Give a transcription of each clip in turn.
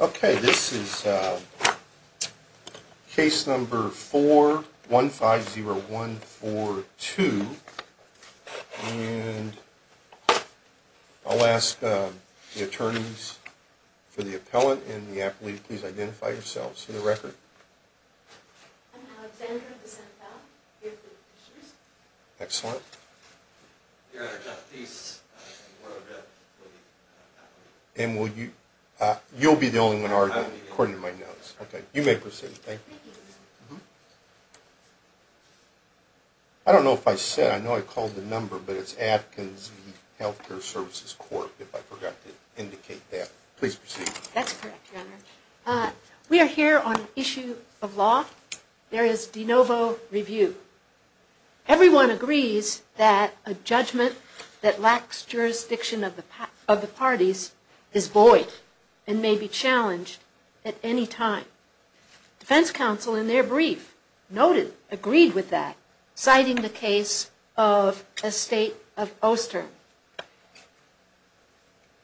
Okay, this is case number 4150142. And I'll ask the attorneys for the appellant and the appellee to please identify yourselves for the record. I'm Alexandra DeSantel, here for the petitioners. Excellent. Your Honor, Jeff Pease. And you'll be the only one arguing, according to my notes. Okay, you may proceed. Thank you. I don't know if I said it. I know I called the number, but it's Atkins v. Health Care Services Corp. If I forgot to indicate that. Please proceed. That's correct, Your Honor. We are here on an issue of law. There is de novo review. Everyone agrees that a judgment that lacks jurisdiction of the parties is void and may be challenged at any time. Defense counsel, in their brief, noted, agreed with that, citing the case of a state of Oster.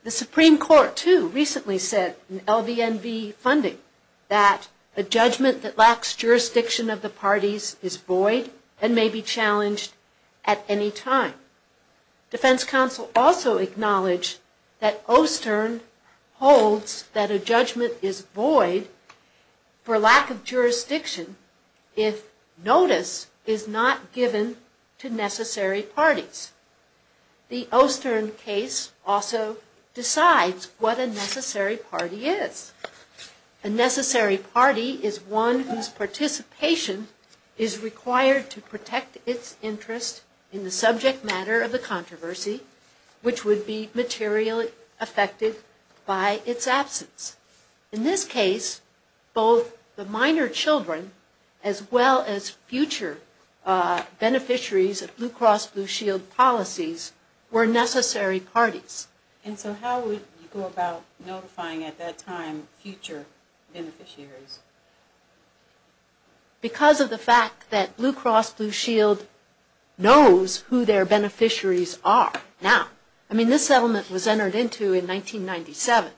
The Supreme Court, too, recently said in LVNV funding that a judgment that lacks jurisdiction of the parties is void and may be challenged at any time. Defense counsel also acknowledged that Oster holds that a judgment is void for lack of jurisdiction if notice is not given to necessary parties. The Oster case also decides what a necessary party is. A necessary party is one whose participation is required to protect its interest in the subject matter of the controversy, which would be materially affected by its absence. In this case, both the minor children as well as future beneficiaries of Blue Cross Blue Shield policies were necessary parties. And so how would you go about notifying, at that time, future beneficiaries? Because of the fact that Blue Cross Blue Shield knows who their beneficiaries are now. I mean, this settlement was entered into in 1997.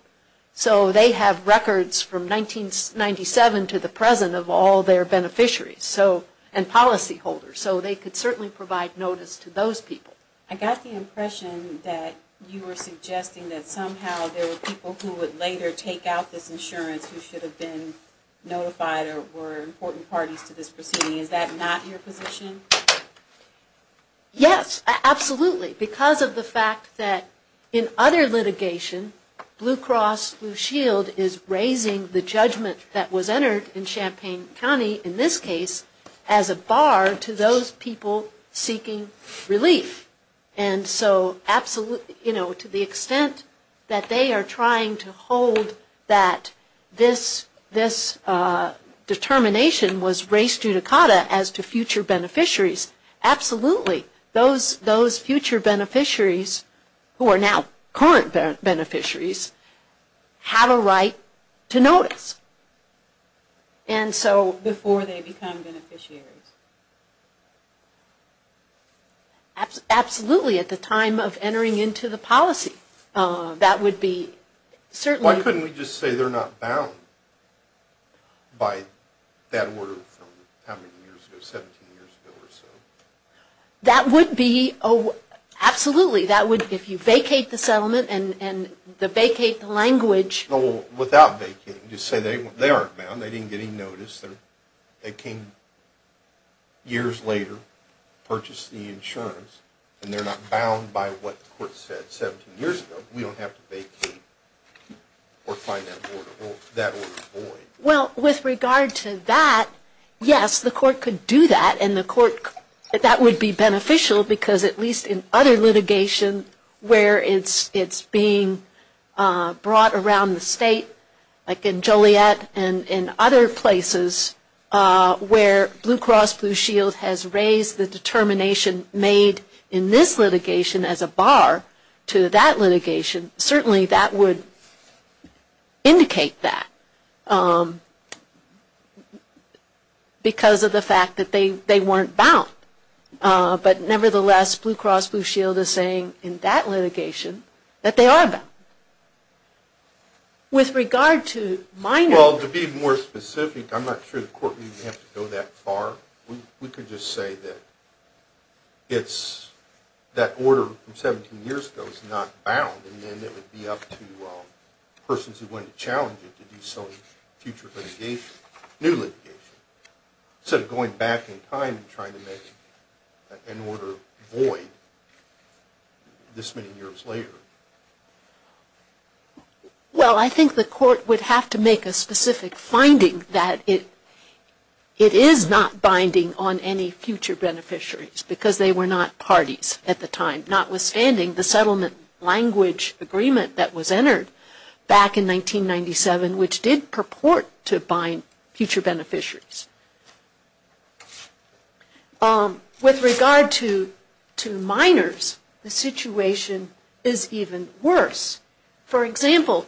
So they have records from 1997 to the present of all their beneficiaries and policyholders. So they could certainly provide notice to those people. I got the impression that you were suggesting that somehow there were people who would later take out this insurance who should have been notified or were important parties to this proceeding. Is that not your position? Yes, absolutely. Because of the fact that in other litigation, Blue Cross Blue Shield is raising the judgment that was entered in Champaign County, in this case, as a bar to those people seeking relief. And so to the extent that they are trying to hold that this determination was raised judicata as to future beneficiaries, absolutely. Those future beneficiaries, who are now current beneficiaries, have a right to notice. Before they become beneficiaries. Absolutely, at the time of entering into the policy. That would be certainly... Why couldn't we just say they're not bound by that order from how many years ago, 17 years ago or so? That would be, absolutely. That would, if you vacate the settlement and vacate the language... Well, without vacating, just say they aren't bound. They didn't get any notice. They came years later, purchased the insurance, and they're not bound by what the court said 17 years ago. We don't have to vacate or find that order void. Well, with regard to that, yes, the court could do that. That would be beneficial because at least in other litigation where it's being brought around the state, like in Joliet and in other places, where Blue Cross Blue Shield has raised the determination made in this litigation as a bar to that litigation, certainly that would indicate that because of the fact that they weren't bound. But nevertheless, Blue Cross Blue Shield is saying in that litigation that they are bound. With regard to minor... Well, to be more specific, I'm not sure the court would even have to go that far. We could just say that that order from 17 years ago is not bound, and then it would be up to persons who went to challenge it to do some future litigation, new litigation, instead of going back in time and trying to make an order void this many years later. Well, I think the court would have to make a specific finding that it is not binding on any future beneficiaries because they were not parties at the time, notwithstanding the settlement language agreement that was entered back in 1997, which did purport to bind future beneficiaries. With regard to minors, the situation is even worse. For example,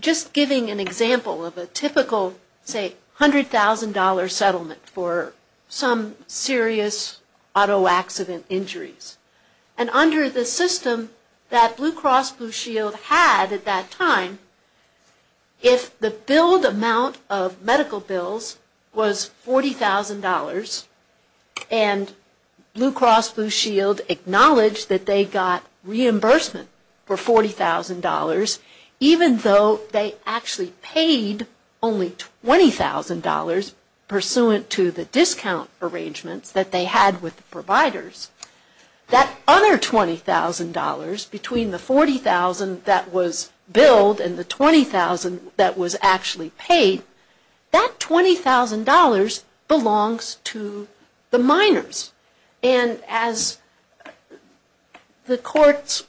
just giving an example of a typical, say, $100,000 settlement for some serious auto accident injuries. And under the system that Blue Cross Blue Shield had at that time, if the billed amount of medical bills was $40,000, and Blue Cross Blue Shield acknowledged that they got reimbursement for $40,000, even though they actually paid only $20,000 pursuant to the discount arrangements that they had with the providers, that other $20,000 between the $40,000 that was billed and the $20,000 that was actually paid, that $20,000 belongs to the minors. And as the courts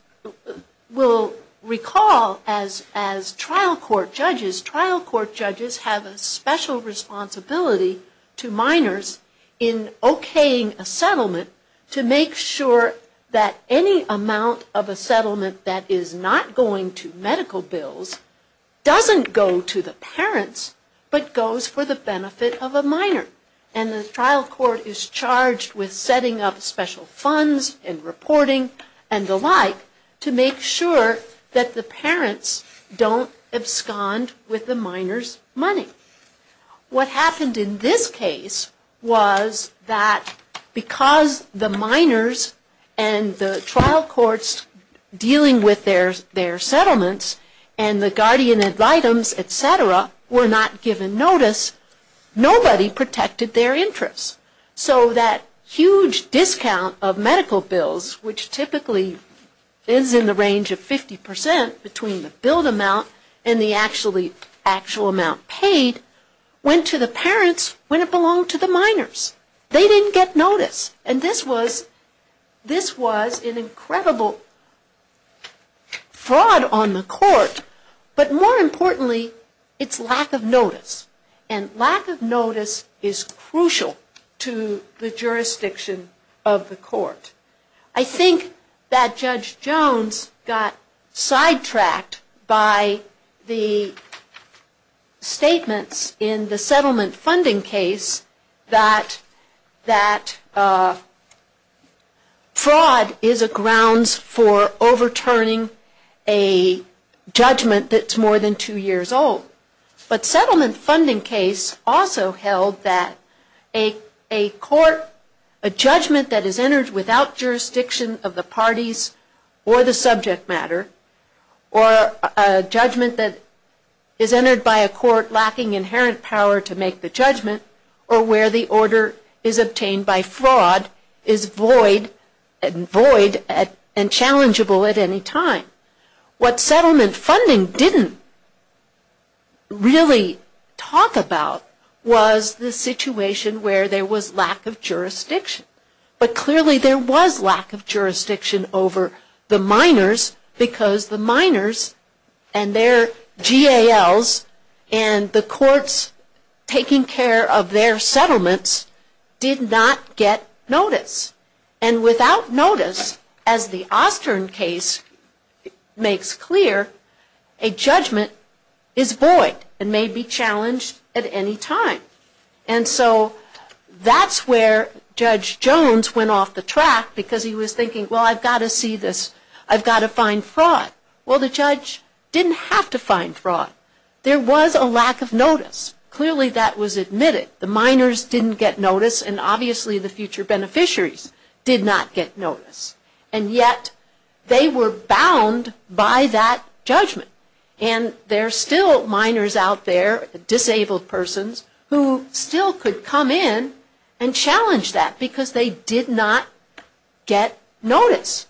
will recall as trial court judges, trial court judges have a special responsibility to minors in okaying a settlement to make sure that any amount of a settlement that is not going to medical bills doesn't go to the parents, but goes for the benefit of a minor. And the trial court is charged with setting up special funds and reporting and the like to make sure that the parents don't abscond with the minors' money. What happened in this case was that because the minors and the trial courts dealing with their settlements and the guardian ad litems, et cetera, were not given notice, nobody protected their interests. So that huge discount of medical bills, which typically is in the range of 50% between the billed amount and the actual amount paid, went to the parents when it belonged to the minors. They didn't get notice. And this was an incredible fraud on the court. But more importantly, it's lack of notice. And lack of notice is crucial to the jurisdiction of the court. I think that Judge Jones got sidetracked by the statements in the settlement funding case that fraud is a grounds for overturning a judgment that's more than two years old. But settlement funding case also held that a court, a judgment that is entered without jurisdiction of the parties or the subject matter, or a judgment that is entered by a court lacking inherent power to make the judgment, or where the order is obtained by fraud, is void and challengeable at any time. What settlement funding didn't really talk about was the situation where there was lack of jurisdiction. But clearly there was lack of jurisdiction over the minors because the minors and their GALs and the courts taking care of their settlements did not get notice. And without notice, as the Austern case makes clear, a judgment is void and may be challenged at any time. And so that's where Judge Jones went off the track because he was thinking, well, I've got to see this. I've got to find fraud. Well, the judge didn't have to find fraud. There was a lack of notice. Clearly that was admitted. The minors didn't get notice and obviously the future beneficiaries did not get notice. And yet they were bound by that judgment. And there are still minors out there, disabled persons, who still could come in and challenge that because they did not get notice.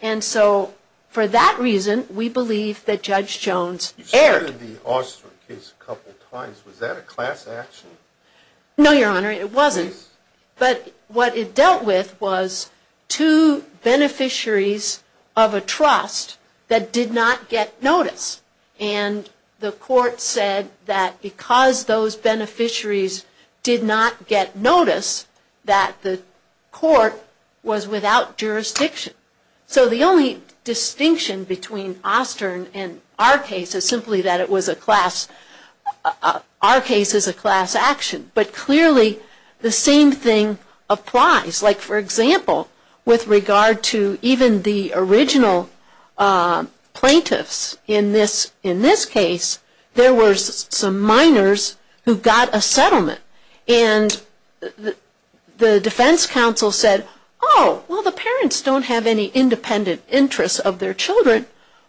And so for that reason, we believe that Judge Jones erred. You started the Austern case a couple of times. Was that a class action? No, Your Honor, it wasn't. But what it dealt with was two beneficiaries of a trust that did not get notice. And the court said that because those beneficiaries did not get notice, that the court was without jurisdiction. So the only distinction between Austern and our case is simply that it was a class, our case is a class action. But clearly the same thing applies. Like, for example, with regard to even the original plaintiffs in this case, there were some minors who got a settlement. And the defense counsel said, oh, well, the parents don't have any independent interest of their children.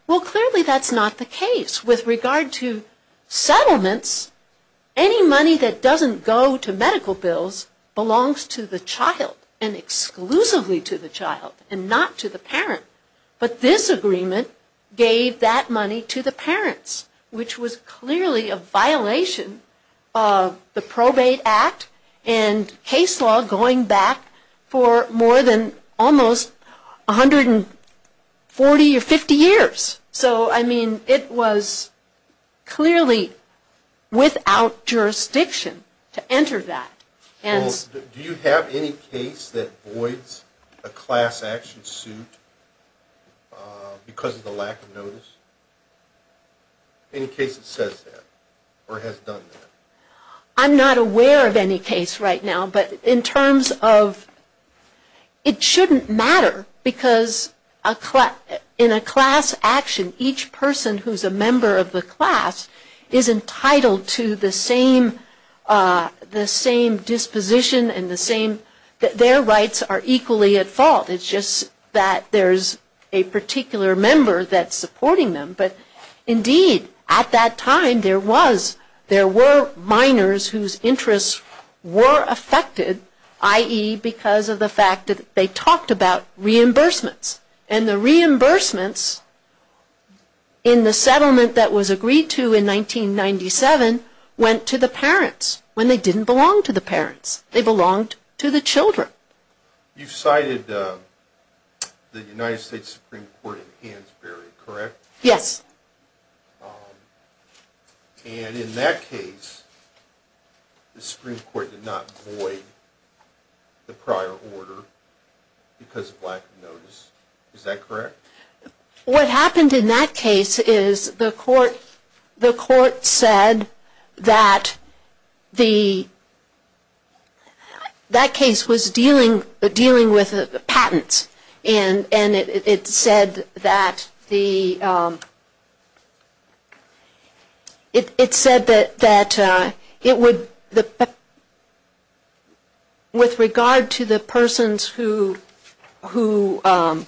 Well, clearly that's not the case. With regard to settlements, any money that doesn't go to medical bills belongs to the child. And exclusively to the child and not to the parent. But this agreement gave that money to the parents, which was clearly a violation of the Probate Act and case law going back for more than almost 140 or 50 years. So, I mean, it was clearly without jurisdiction to enter that. Do you have any case that voids a class action suit because of the lack of notice? Any case that says that or has done that? I'm not aware of any case right now, but in terms of, it shouldn't matter, because in a class action, each person who's a member of the class is entitled to the same duty. The same disposition and the same, their rights are equally at fault. It's just that there's a particular member that's supporting them. But indeed, at that time, there was, there were minors whose interests were affected, i.e., because of the fact that they talked about reimbursements. And the reimbursements in the settlement that was agreed to in 1997 went to the parents when they didn't belong to the parents. They belonged to the children. You cited the United States Supreme Court in Hansberry, correct? Yes. And in that case, the Supreme Court did not void the prior order because of lack of notice. Is that correct? What happened in that case is the court said that the, that case was dealing with patents and it said that the, it said that it would, with regard to the persons who, who, you know,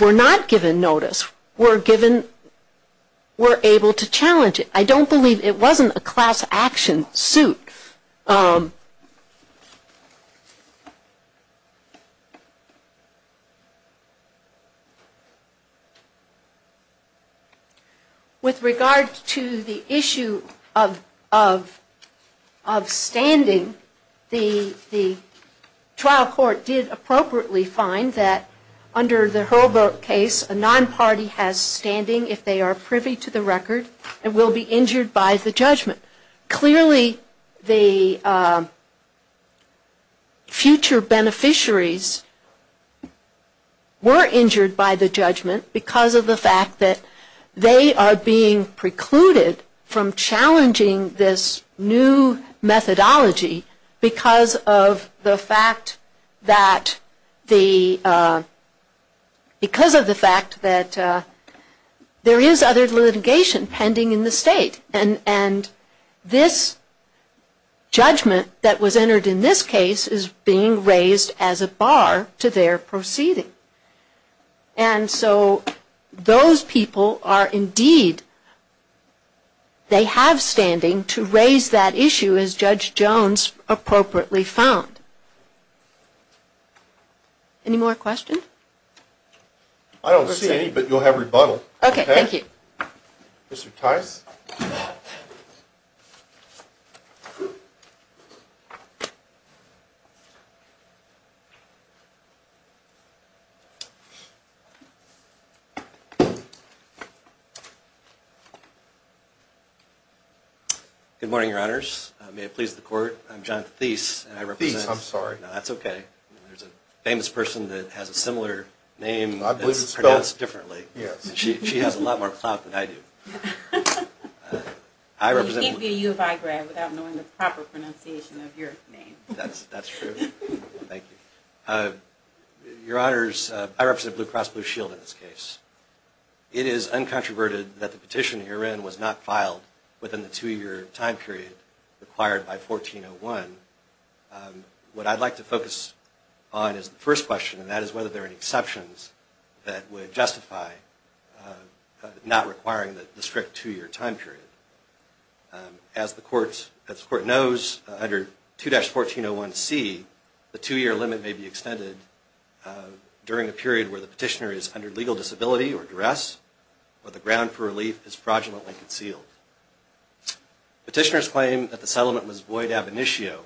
were not given notice were given, were able to challenge it. I don't believe it wasn't a class action suit. With regard to the issue of, of, of standing, the, the trial court did appropriately find that under the HURL vote case, a non-party has standing if they are privy to the record and will be injured by the judgment. Clearly the future beneficiaries were injured by the judgment because of the fact that they are being precluded from challenging this new methodology because of the fact that the, the existing there is other litigation pending in the state and, and this judgment that was entered in this case is being raised as a bar to their proceeding. And so those people are indeed, they have standing to raise that issue as Judge Jones appropriately found. Any more questions? I don't see any, but you'll have rebuttal. Okay, thank you. Mr. Tice. Good morning, Your Honors. May it please the public that Judge Jones has a similar name that's pronounced differently. She has a lot more clout than I do. You can't be a U of I grad without knowing the proper pronunciation of your name. That's true. Thank you. Your Honors, I represent Blue Cross Blue Shield in this case. It is uncontroverted that the petition herein was not filed within the two-year time period required by 1401. What I'd like to focus on is the question of whether there are any exceptions that would justify not requiring the strict two-year time period. As the court, as the court knows, under 2-1401C, the two-year limit may be extended during a period where the petitioner is under legal disability or duress or the ground for relief is fraudulently concealed. Petitioners claim that the settlement was void ab initio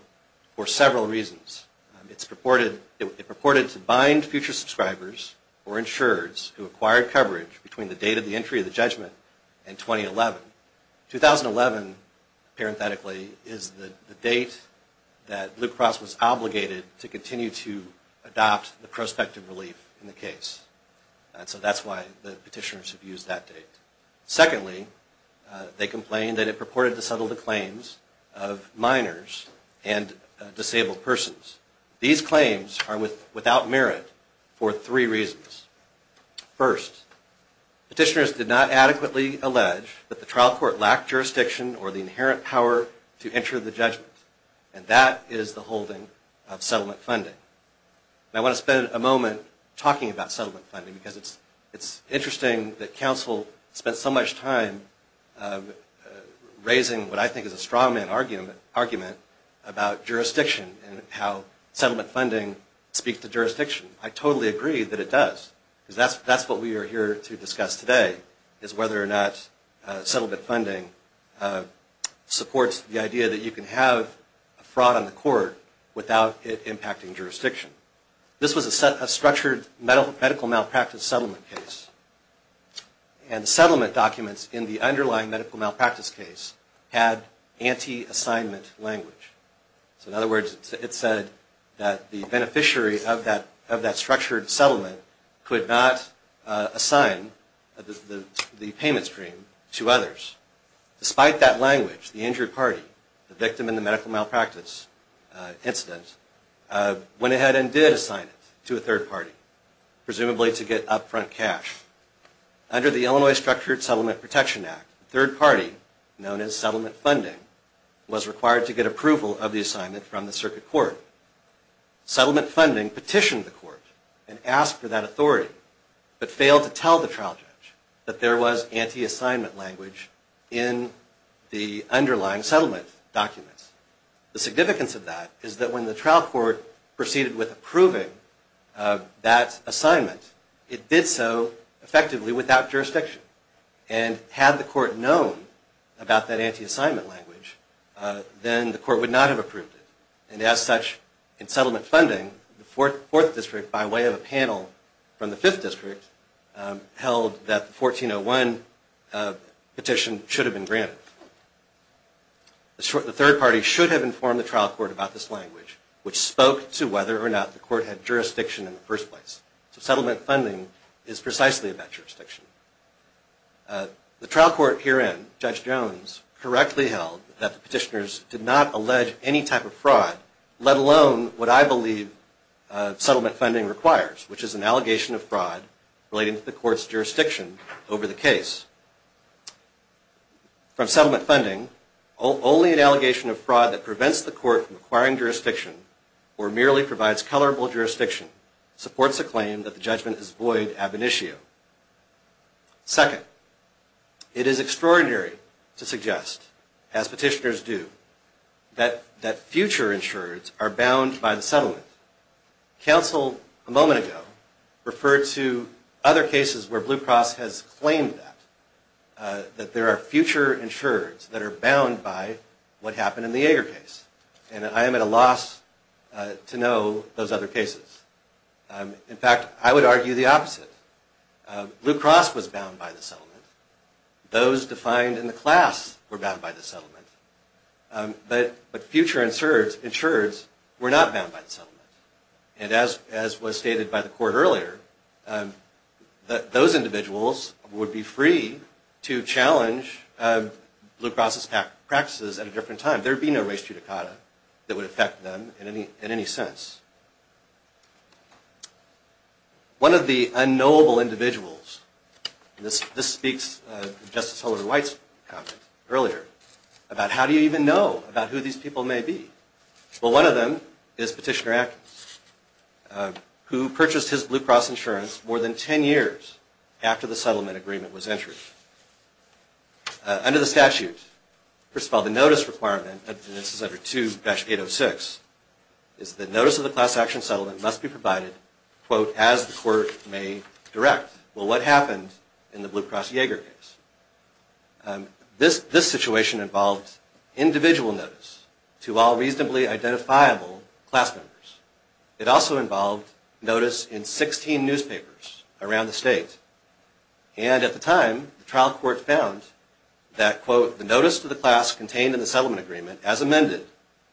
for several reasons. It's purported, it is a violation of the right of the petitioner's subscribers or insureds who acquired coverage between the date of the entry of the judgment and 2011. 2011, parenthetically, is the date that Blue Cross was obligated to continue to adopt the prospective relief in the case. So that's why the petitioners have used that date. Secondly, they complain that it purported to settle the claims of minors and disabled persons. These claims are for three reasons. First, petitioners did not adequately allege that the trial court lacked jurisdiction or the inherent power to enter the judgment. And that is the holding of settlement funding. I want to spend a moment talking about settlement funding because it's interesting that counsel spent so much time raising what I think is a straw man argument about jurisdiction and how settlement funding speaks to the degree that it does. Because that's what we are here to discuss today is whether or not settlement funding supports the idea that you can have a fraud on the court without it impacting jurisdiction. This was a structured medical malpractice settlement case. And the settlement documents in the underlying medical malpractice case had anti-assignment language. So in other words, it said that the beneficiary of that structured settlement could not assign the payment stream to others. Despite that language, the injured party, the victim in the medical malpractice incident, went ahead and did assign it to a third party, presumably to get upfront cash. Under the Illinois Structured Settlement Protection Act, the third party, known as settlement funding, was required to get approval of the assignment from the circuit court. Settlement funding petitioned the court and asked for that authority, but failed to tell the trial judge that there was anti-assignment language in the underlying settlement documents. The significance of that is that when the trial court proceeded with approving that assignment, it did so effectively without jurisdiction. And had the court known about that anti-assignment language, then the court would not have approved it. And as such, in settlement funding, the fourth district, by way of a panel from the fifth district, held that the 1401 petition should have been granted. The third party should have informed the trial court about this language, which spoke to whether or not the court had jurisdiction in the first place. So settlement funding is precisely about jurisdiction. The trial court herein, Judge Jones, correctly held that the petitioners did not allege any type of fraud, let alone what I believe settlement funding requires, which is an allegation of fraud relating to the court's jurisdiction over the case. From settlement funding, only an allegation of fraud that prevents the court from acquiring jurisdiction, or merely provides colorable jurisdiction, supports a claim that the judgment is void ab initio. Second, it is extraordinary to suggest, as petitioners do, that fraud is not an allegation of fraud, but that future insurers are bound by the settlement. Counsel, a moment ago, referred to other cases where Blue Cross has claimed that, that there are future insurers that are bound by what happened in the Ager case. And I am at a loss to know those other cases. In fact, I would argue the opposite. Blue Cross was bound by the settlement. Those defined in the class were bound by the settlement. But future insurers were not bound by the settlement. And as was stated by the court earlier, those individuals would be free to challenge Blue Cross's practices at a different time. There would be no res judicata that would affect them in any sense. One of the unknowable individuals, this speaks to Justice Kavanaugh, is a petitioner, who purchased his Blue Cross insurance more than 10 years after the settlement agreement was entered. Under the statute, first of all, the notice requirement, and this is under 2-806, is that notice of the class action settlement must be provided, quote, as the court may direct. Well, what happened in the Blue Cross Ager case? This situation involved individual notice. The court may not be able to provide a notice to all reasonably identifiable class members. It also involved notice in 16 newspapers around the state. And at the time, the trial court found that, quote, the notice to the class contained in the settlement agreement, as amended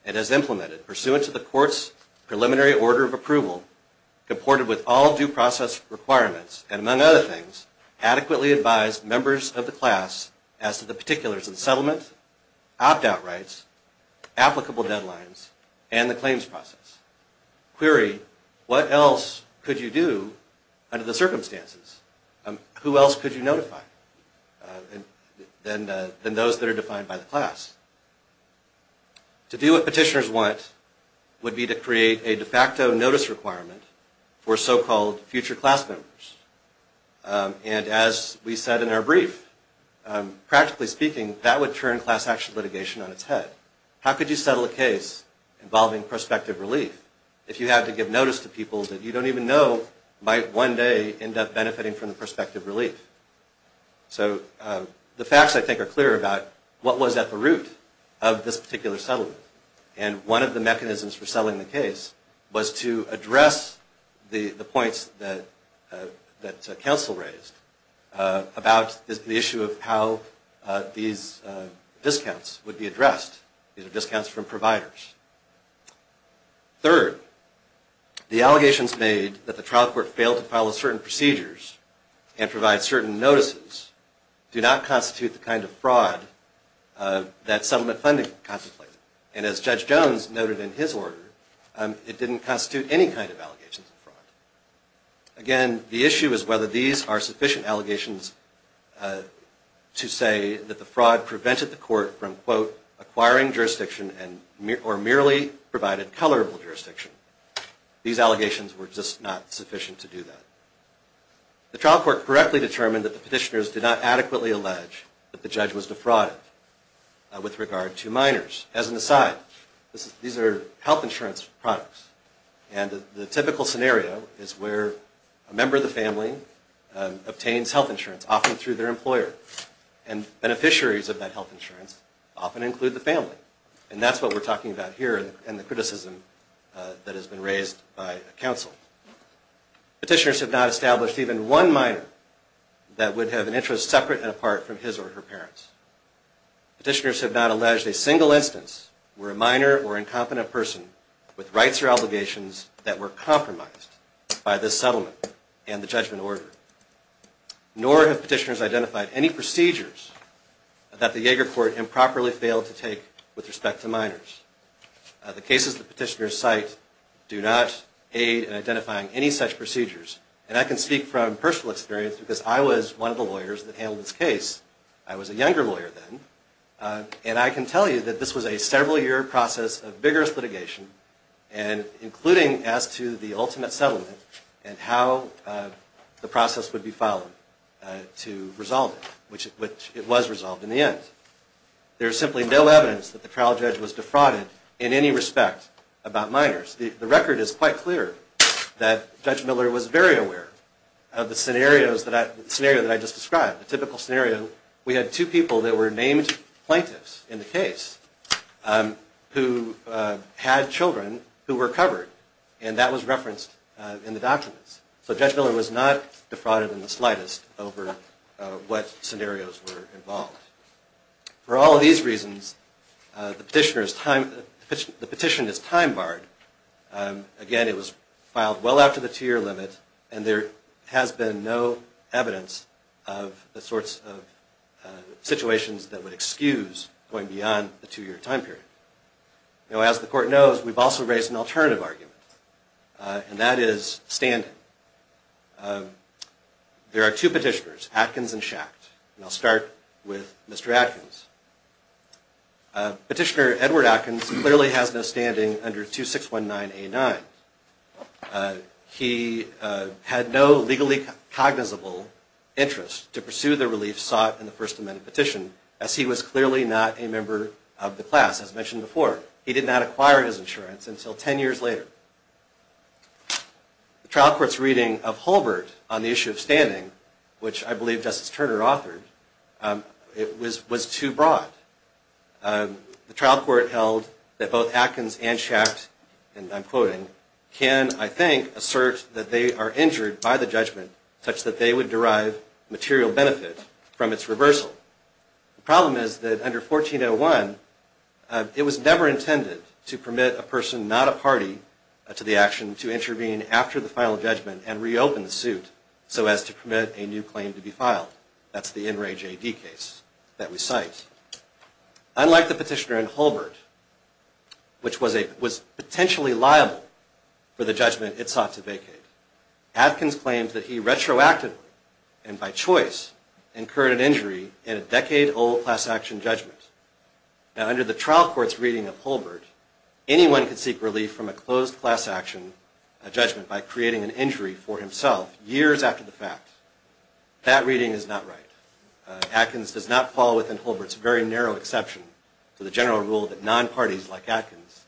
and as implemented pursuant to the court's preliminary order of approval, comported with all due process requirements, and among other things, adequately advised members of the class to meet the applicable deadlines and the claims process. Query, what else could you do under the circumstances? Who else could you notify than those that are defined by the class? To do what petitioners want would be to create a de facto notice requirement for so-called future class members. And as we said in our brief, practically speaking, that would turn class action litigation on its head. How could you settle a case involving prospective relief if you had to give notice to people that you don't even know might one day end up benefiting from the prospective relief? So the facts, I think, are clear about what was at the root of this particular settlement. And one of the mechanisms for settling the case was to address the points that counsel raised about the issue of how these discounts would be addressed. These are the kinds of discounts that would be addressed by the trial court in the case of a case involving prospective relief. The first is that the trial court would not be able to provide certain notices to certain providers. Third, the allegations made that the trial court failed to follow certain procedures and provide certain notices do not constitute the kind of fraud that settlement funding contemplated. And as Judge Jones noted in the court from, quote, acquiring jurisdiction and or merely provided colorable jurisdiction, these allegations were just not sufficient to do that. The trial court correctly determined that the petitioners did not adequately allege that the judge was defrauded with regard to minors. As an aside, these are health insurance products. And the typical scenario is where a member of the family obtains health insurance, often include the family. And that's what we're talking about here in the criticism that has been raised by counsel. Petitioners have not established even one minor that would have an interest separate and apart from his or her parents. Petitioners have not alleged a single instance where a minor or incompetent person with rights or obligations that were compromised by this settlement and the judgment order. Nor have petitioners identified any procedures that the Yaeger court improperly failed to take with respect to minors. The cases the petitioners cite do not aid in identifying any such procedures. And I can speak from personal experience because I was one of the lawyers that handled this case. I was a younger lawyer then. And I can tell you that this was a several-year process of vigorous litigation, including as to the ultimate settlement and how the process would be followed to resolve it, which it was resolved in the end. There is simply no evidence that the trial judge was defrauded in any respect about minors. The record is quite clear that Judge Miller was very aware of the scenarios that I just described. The typical scenario, we had two people that were named plaintiffs in the case who had children who were covered. And that was not the case in the documents. So Judge Miller was not defrauded in the slightest over what scenarios were involved. For all of these reasons, the petition is time-barred. Again, it was filed well after the two-year limit, and there has been no evidence of the sorts of situations that would excuse going beyond the two-year time period. As the court knows, we've also raised an alternative argument. And that is standing. There are two petitioners, Atkins and Schacht. And I'll start with Mr. Atkins. Petitioner Edward Atkins clearly has no standing under 2619A9. He had no legally cognizable interest to pursue the relief sought in the First Amendment petition, as he was clearly not a member of the class, as mentioned before. He did not acquire his insurance until ten years later. The trial court's reading of Holbert on the issue of standing, which I believe Justice Turner authored, was too broad. The trial court held that both Atkins and Schacht, and I'm quoting, can, I think, assert that they are injured by the judgment, such that they would derive material benefit from its reversal. The problem is that under 1401, it was never intended to permit a person, not a party, to the final judgment and reopen the suit so as to permit a new claim to be filed. That's the In Re J D case that we cite. Unlike the petitioner in Holbert, which was potentially liable for the judgment it sought to vacate, Atkins claims that he retroactively and by choice incurred an injury in a decade-old class action judgment. Now, under the trial court's reading of Holbert, anyone could seek relief from a closed class action judgment by creating an injury for himself years after the fact. That reading is not right. Atkins does not fall within Holbert's very narrow exception to the general rule that non-parties like Atkins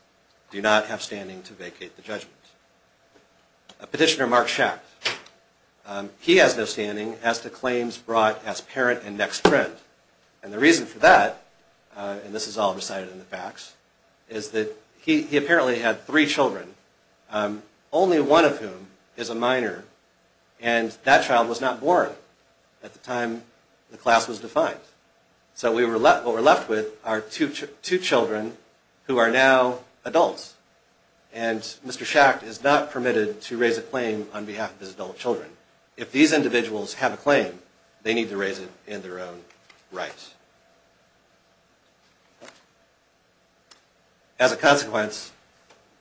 do not have standing to vacate the judgment. Petitioner Mark Schacht, he has no standing as to claims brought as parent and next friend. And the reason for that, and this is all recited in the facts, is that he apparently had three children, only one of whom is a minor, and that child was not born at the time the class was defined. So what we're left with are two children who are now adults. And Mr. Schacht is not permitted to raise a claim on behalf of his adult children. If these individuals have a claim, they need to raise it in their own right. As a consequence,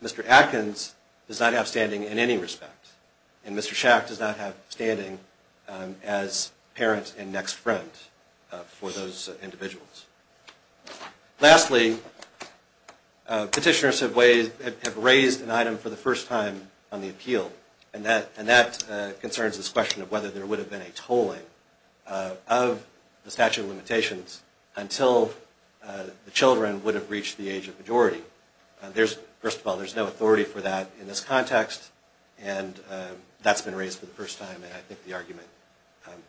Mr. Atkins does not have standing in any respect. And Mr. Schacht does not have standing as parent and next friend for those individuals. Lastly, petitioners have raised an item for the first time on the appeal, and that concerns this tolling of the statute of limitations until the children would have reached the age of majority. First of all, there's no authority for that in this context, and that's been raised for the first time, and I think the argument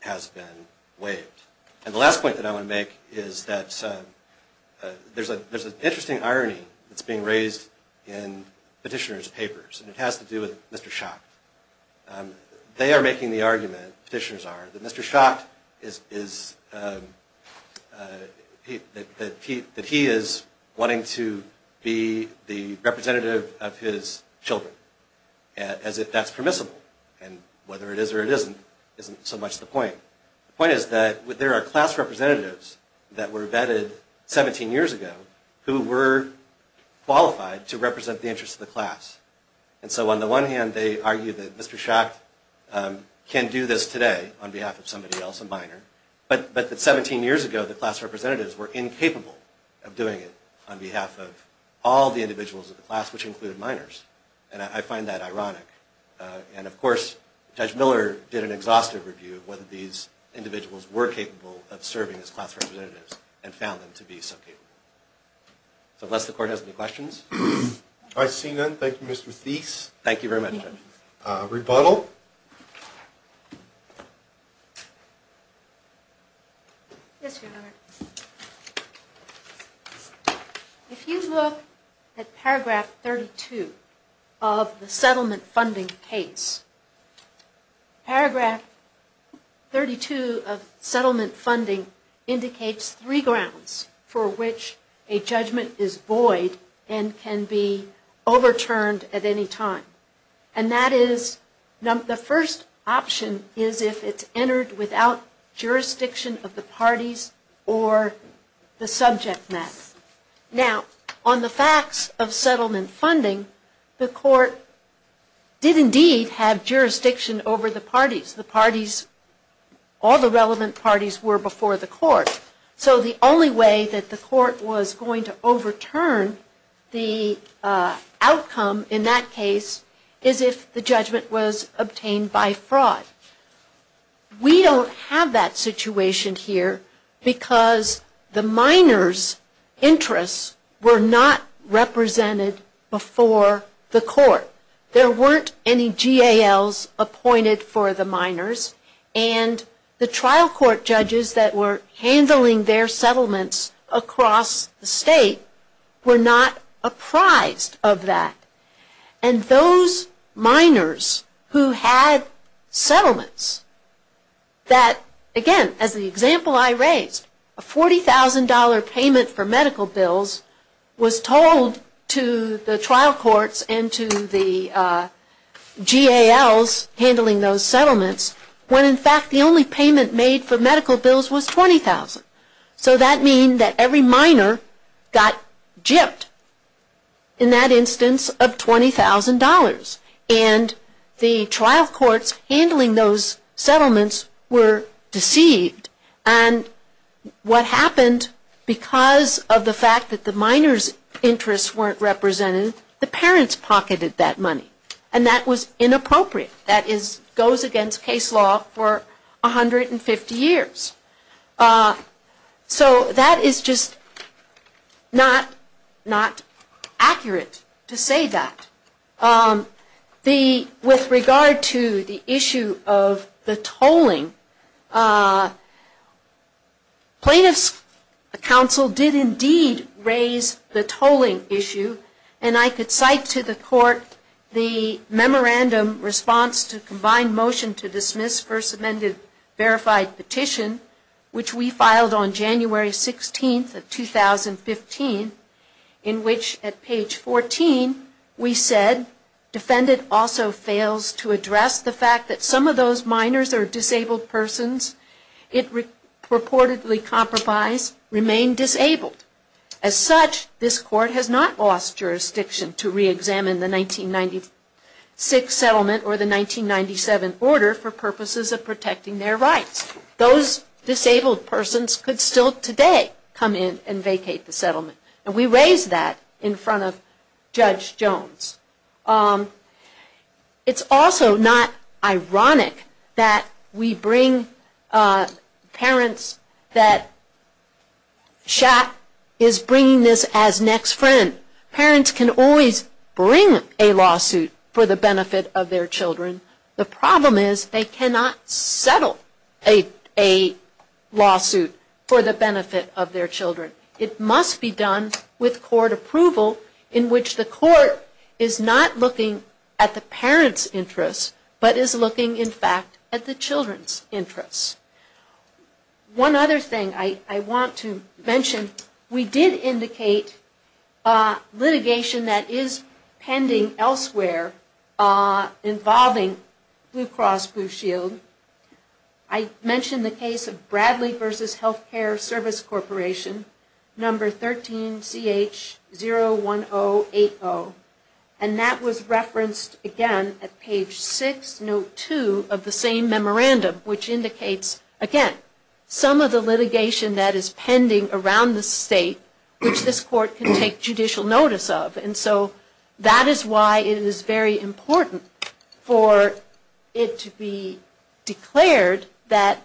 has been waived. And the last point that I want to make is that there's an interesting irony that's being raised in petitioners' papers, and it has to do with Mr. Schacht. They are concerned that Mr. Schacht is, that he is wanting to be the representative of his children, as if that's permissible. And whether it is or it isn't isn't so much the point. The point is that there are class representatives that were vetted 17 years ago who were qualified to represent the interests of the class. And so on the one hand, they argue that Mr. Schacht can do this today on behalf of his own children, on behalf of somebody else, a minor. But 17 years ago, the class representatives were incapable of doing it on behalf of all the individuals of the class, which included minors. And I find that ironic. And of course, Judge Miller did an exhaustive review of whether these individuals were capable of serving as class representatives, and found them to be so capable. So unless the Court has any questions. All right, seeing none, thank you, Mr. Thies. Thank you very much, Judge. Rebuttal. Yes, Your Honor. If you look at paragraph 32 of the settlement funding case, paragraph 32 of settlement funding indicates three grounds for which a judgment is void and can be overturned at any time. And that is, the first option is if it's entered into the settlement without jurisdiction of the parties or the subject matter. Now, on the facts of settlement funding, the Court did indeed have jurisdiction over the parties. The parties, all the relevant parties were before the Court. So the only way that the Court was going to overturn the outcome in that case is if the judgment was obtained by fraud. We are not going to overturn the judgment by fraud. We don't have that situation here because the minors' interests were not represented before the Court. There weren't any GALs appointed for the minors, and the trial court judges that were handling their settlements across the State were not apprised of that. And those minors who had settlements that, again, as the example I raised, a $40,000 payment for medical bills was told to the trial courts and to the GALs handling those settlements when, in fact, the only payment made for medical bills was $20,000. So that means that every minor got gypped in that instance of $20,000. And that's the only way that the Court was going to overturn the judgment. And the trial courts handling those settlements were deceived. And what happened, because of the fact that the minors' interests weren't represented, the parents pocketed that money. And that was inappropriate. That goes against case law for 150 years. So that is just not accurate to say that. With regard to the issue of the tolling, plaintiffs' counsel did indeed raise the tolling issue. And I could cite to the Court the memorandum response to combined motion to dismiss First Amended Verified Petition, which we filed on January 16th of 2015, in which at page 14 we said, defendant also fails to address the fact that some of those minors or disabled persons it reportedly compromised remain disabled. As such, this Court has not lost jurisdiction to reexamine the 1996 settlement or the 1997 order for purposes of protecting their rights. Those disabled persons could still today come in and vacate the settlement. And we raised that in front of Judge Jones. It's also not ironic that we bring parents that SHAP is bringing this as next friend. Parents can always bring a lawsuit for the benefit of their children. The problem is they cannot settle a lawsuit for the benefit of their children. It must be done with court approval in which the court is not looking at the parents' interests, but is looking in fact at the children's interests. One other thing I want to mention, we did indicate litigation that is pending elsewhere involving Blue Cross Blue Shield. I mentioned the case of Bradley v. Healthcare Service Corporation, number 13CH1. 01080. And that was referenced again at page 6, note 2 of the same memorandum, which indicates, again, some of the litigation that is pending around the state which this Court can take judicial notice of. And so that is why it is very important for it to be declared that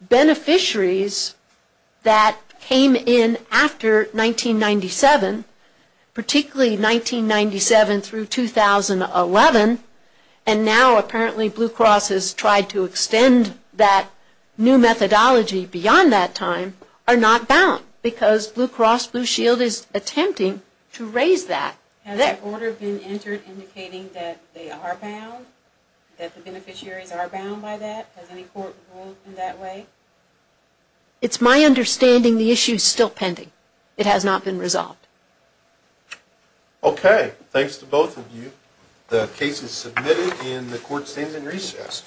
beneficiaries that came in after 1997, who were not eligible for the benefit of their children, particularly 1997 through 2011, and now apparently Blue Cross has tried to extend that new methodology beyond that time, are not bound because Blue Cross Blue Shield is attempting to raise that. Has an order been entered indicating that they are bound, that the beneficiaries are bound by that? Has any court ruled in that way? It is my understanding the issue is still pending. It has not been resolved. Okay. Thanks to both of you. The case is submitted and the Court stands in recess.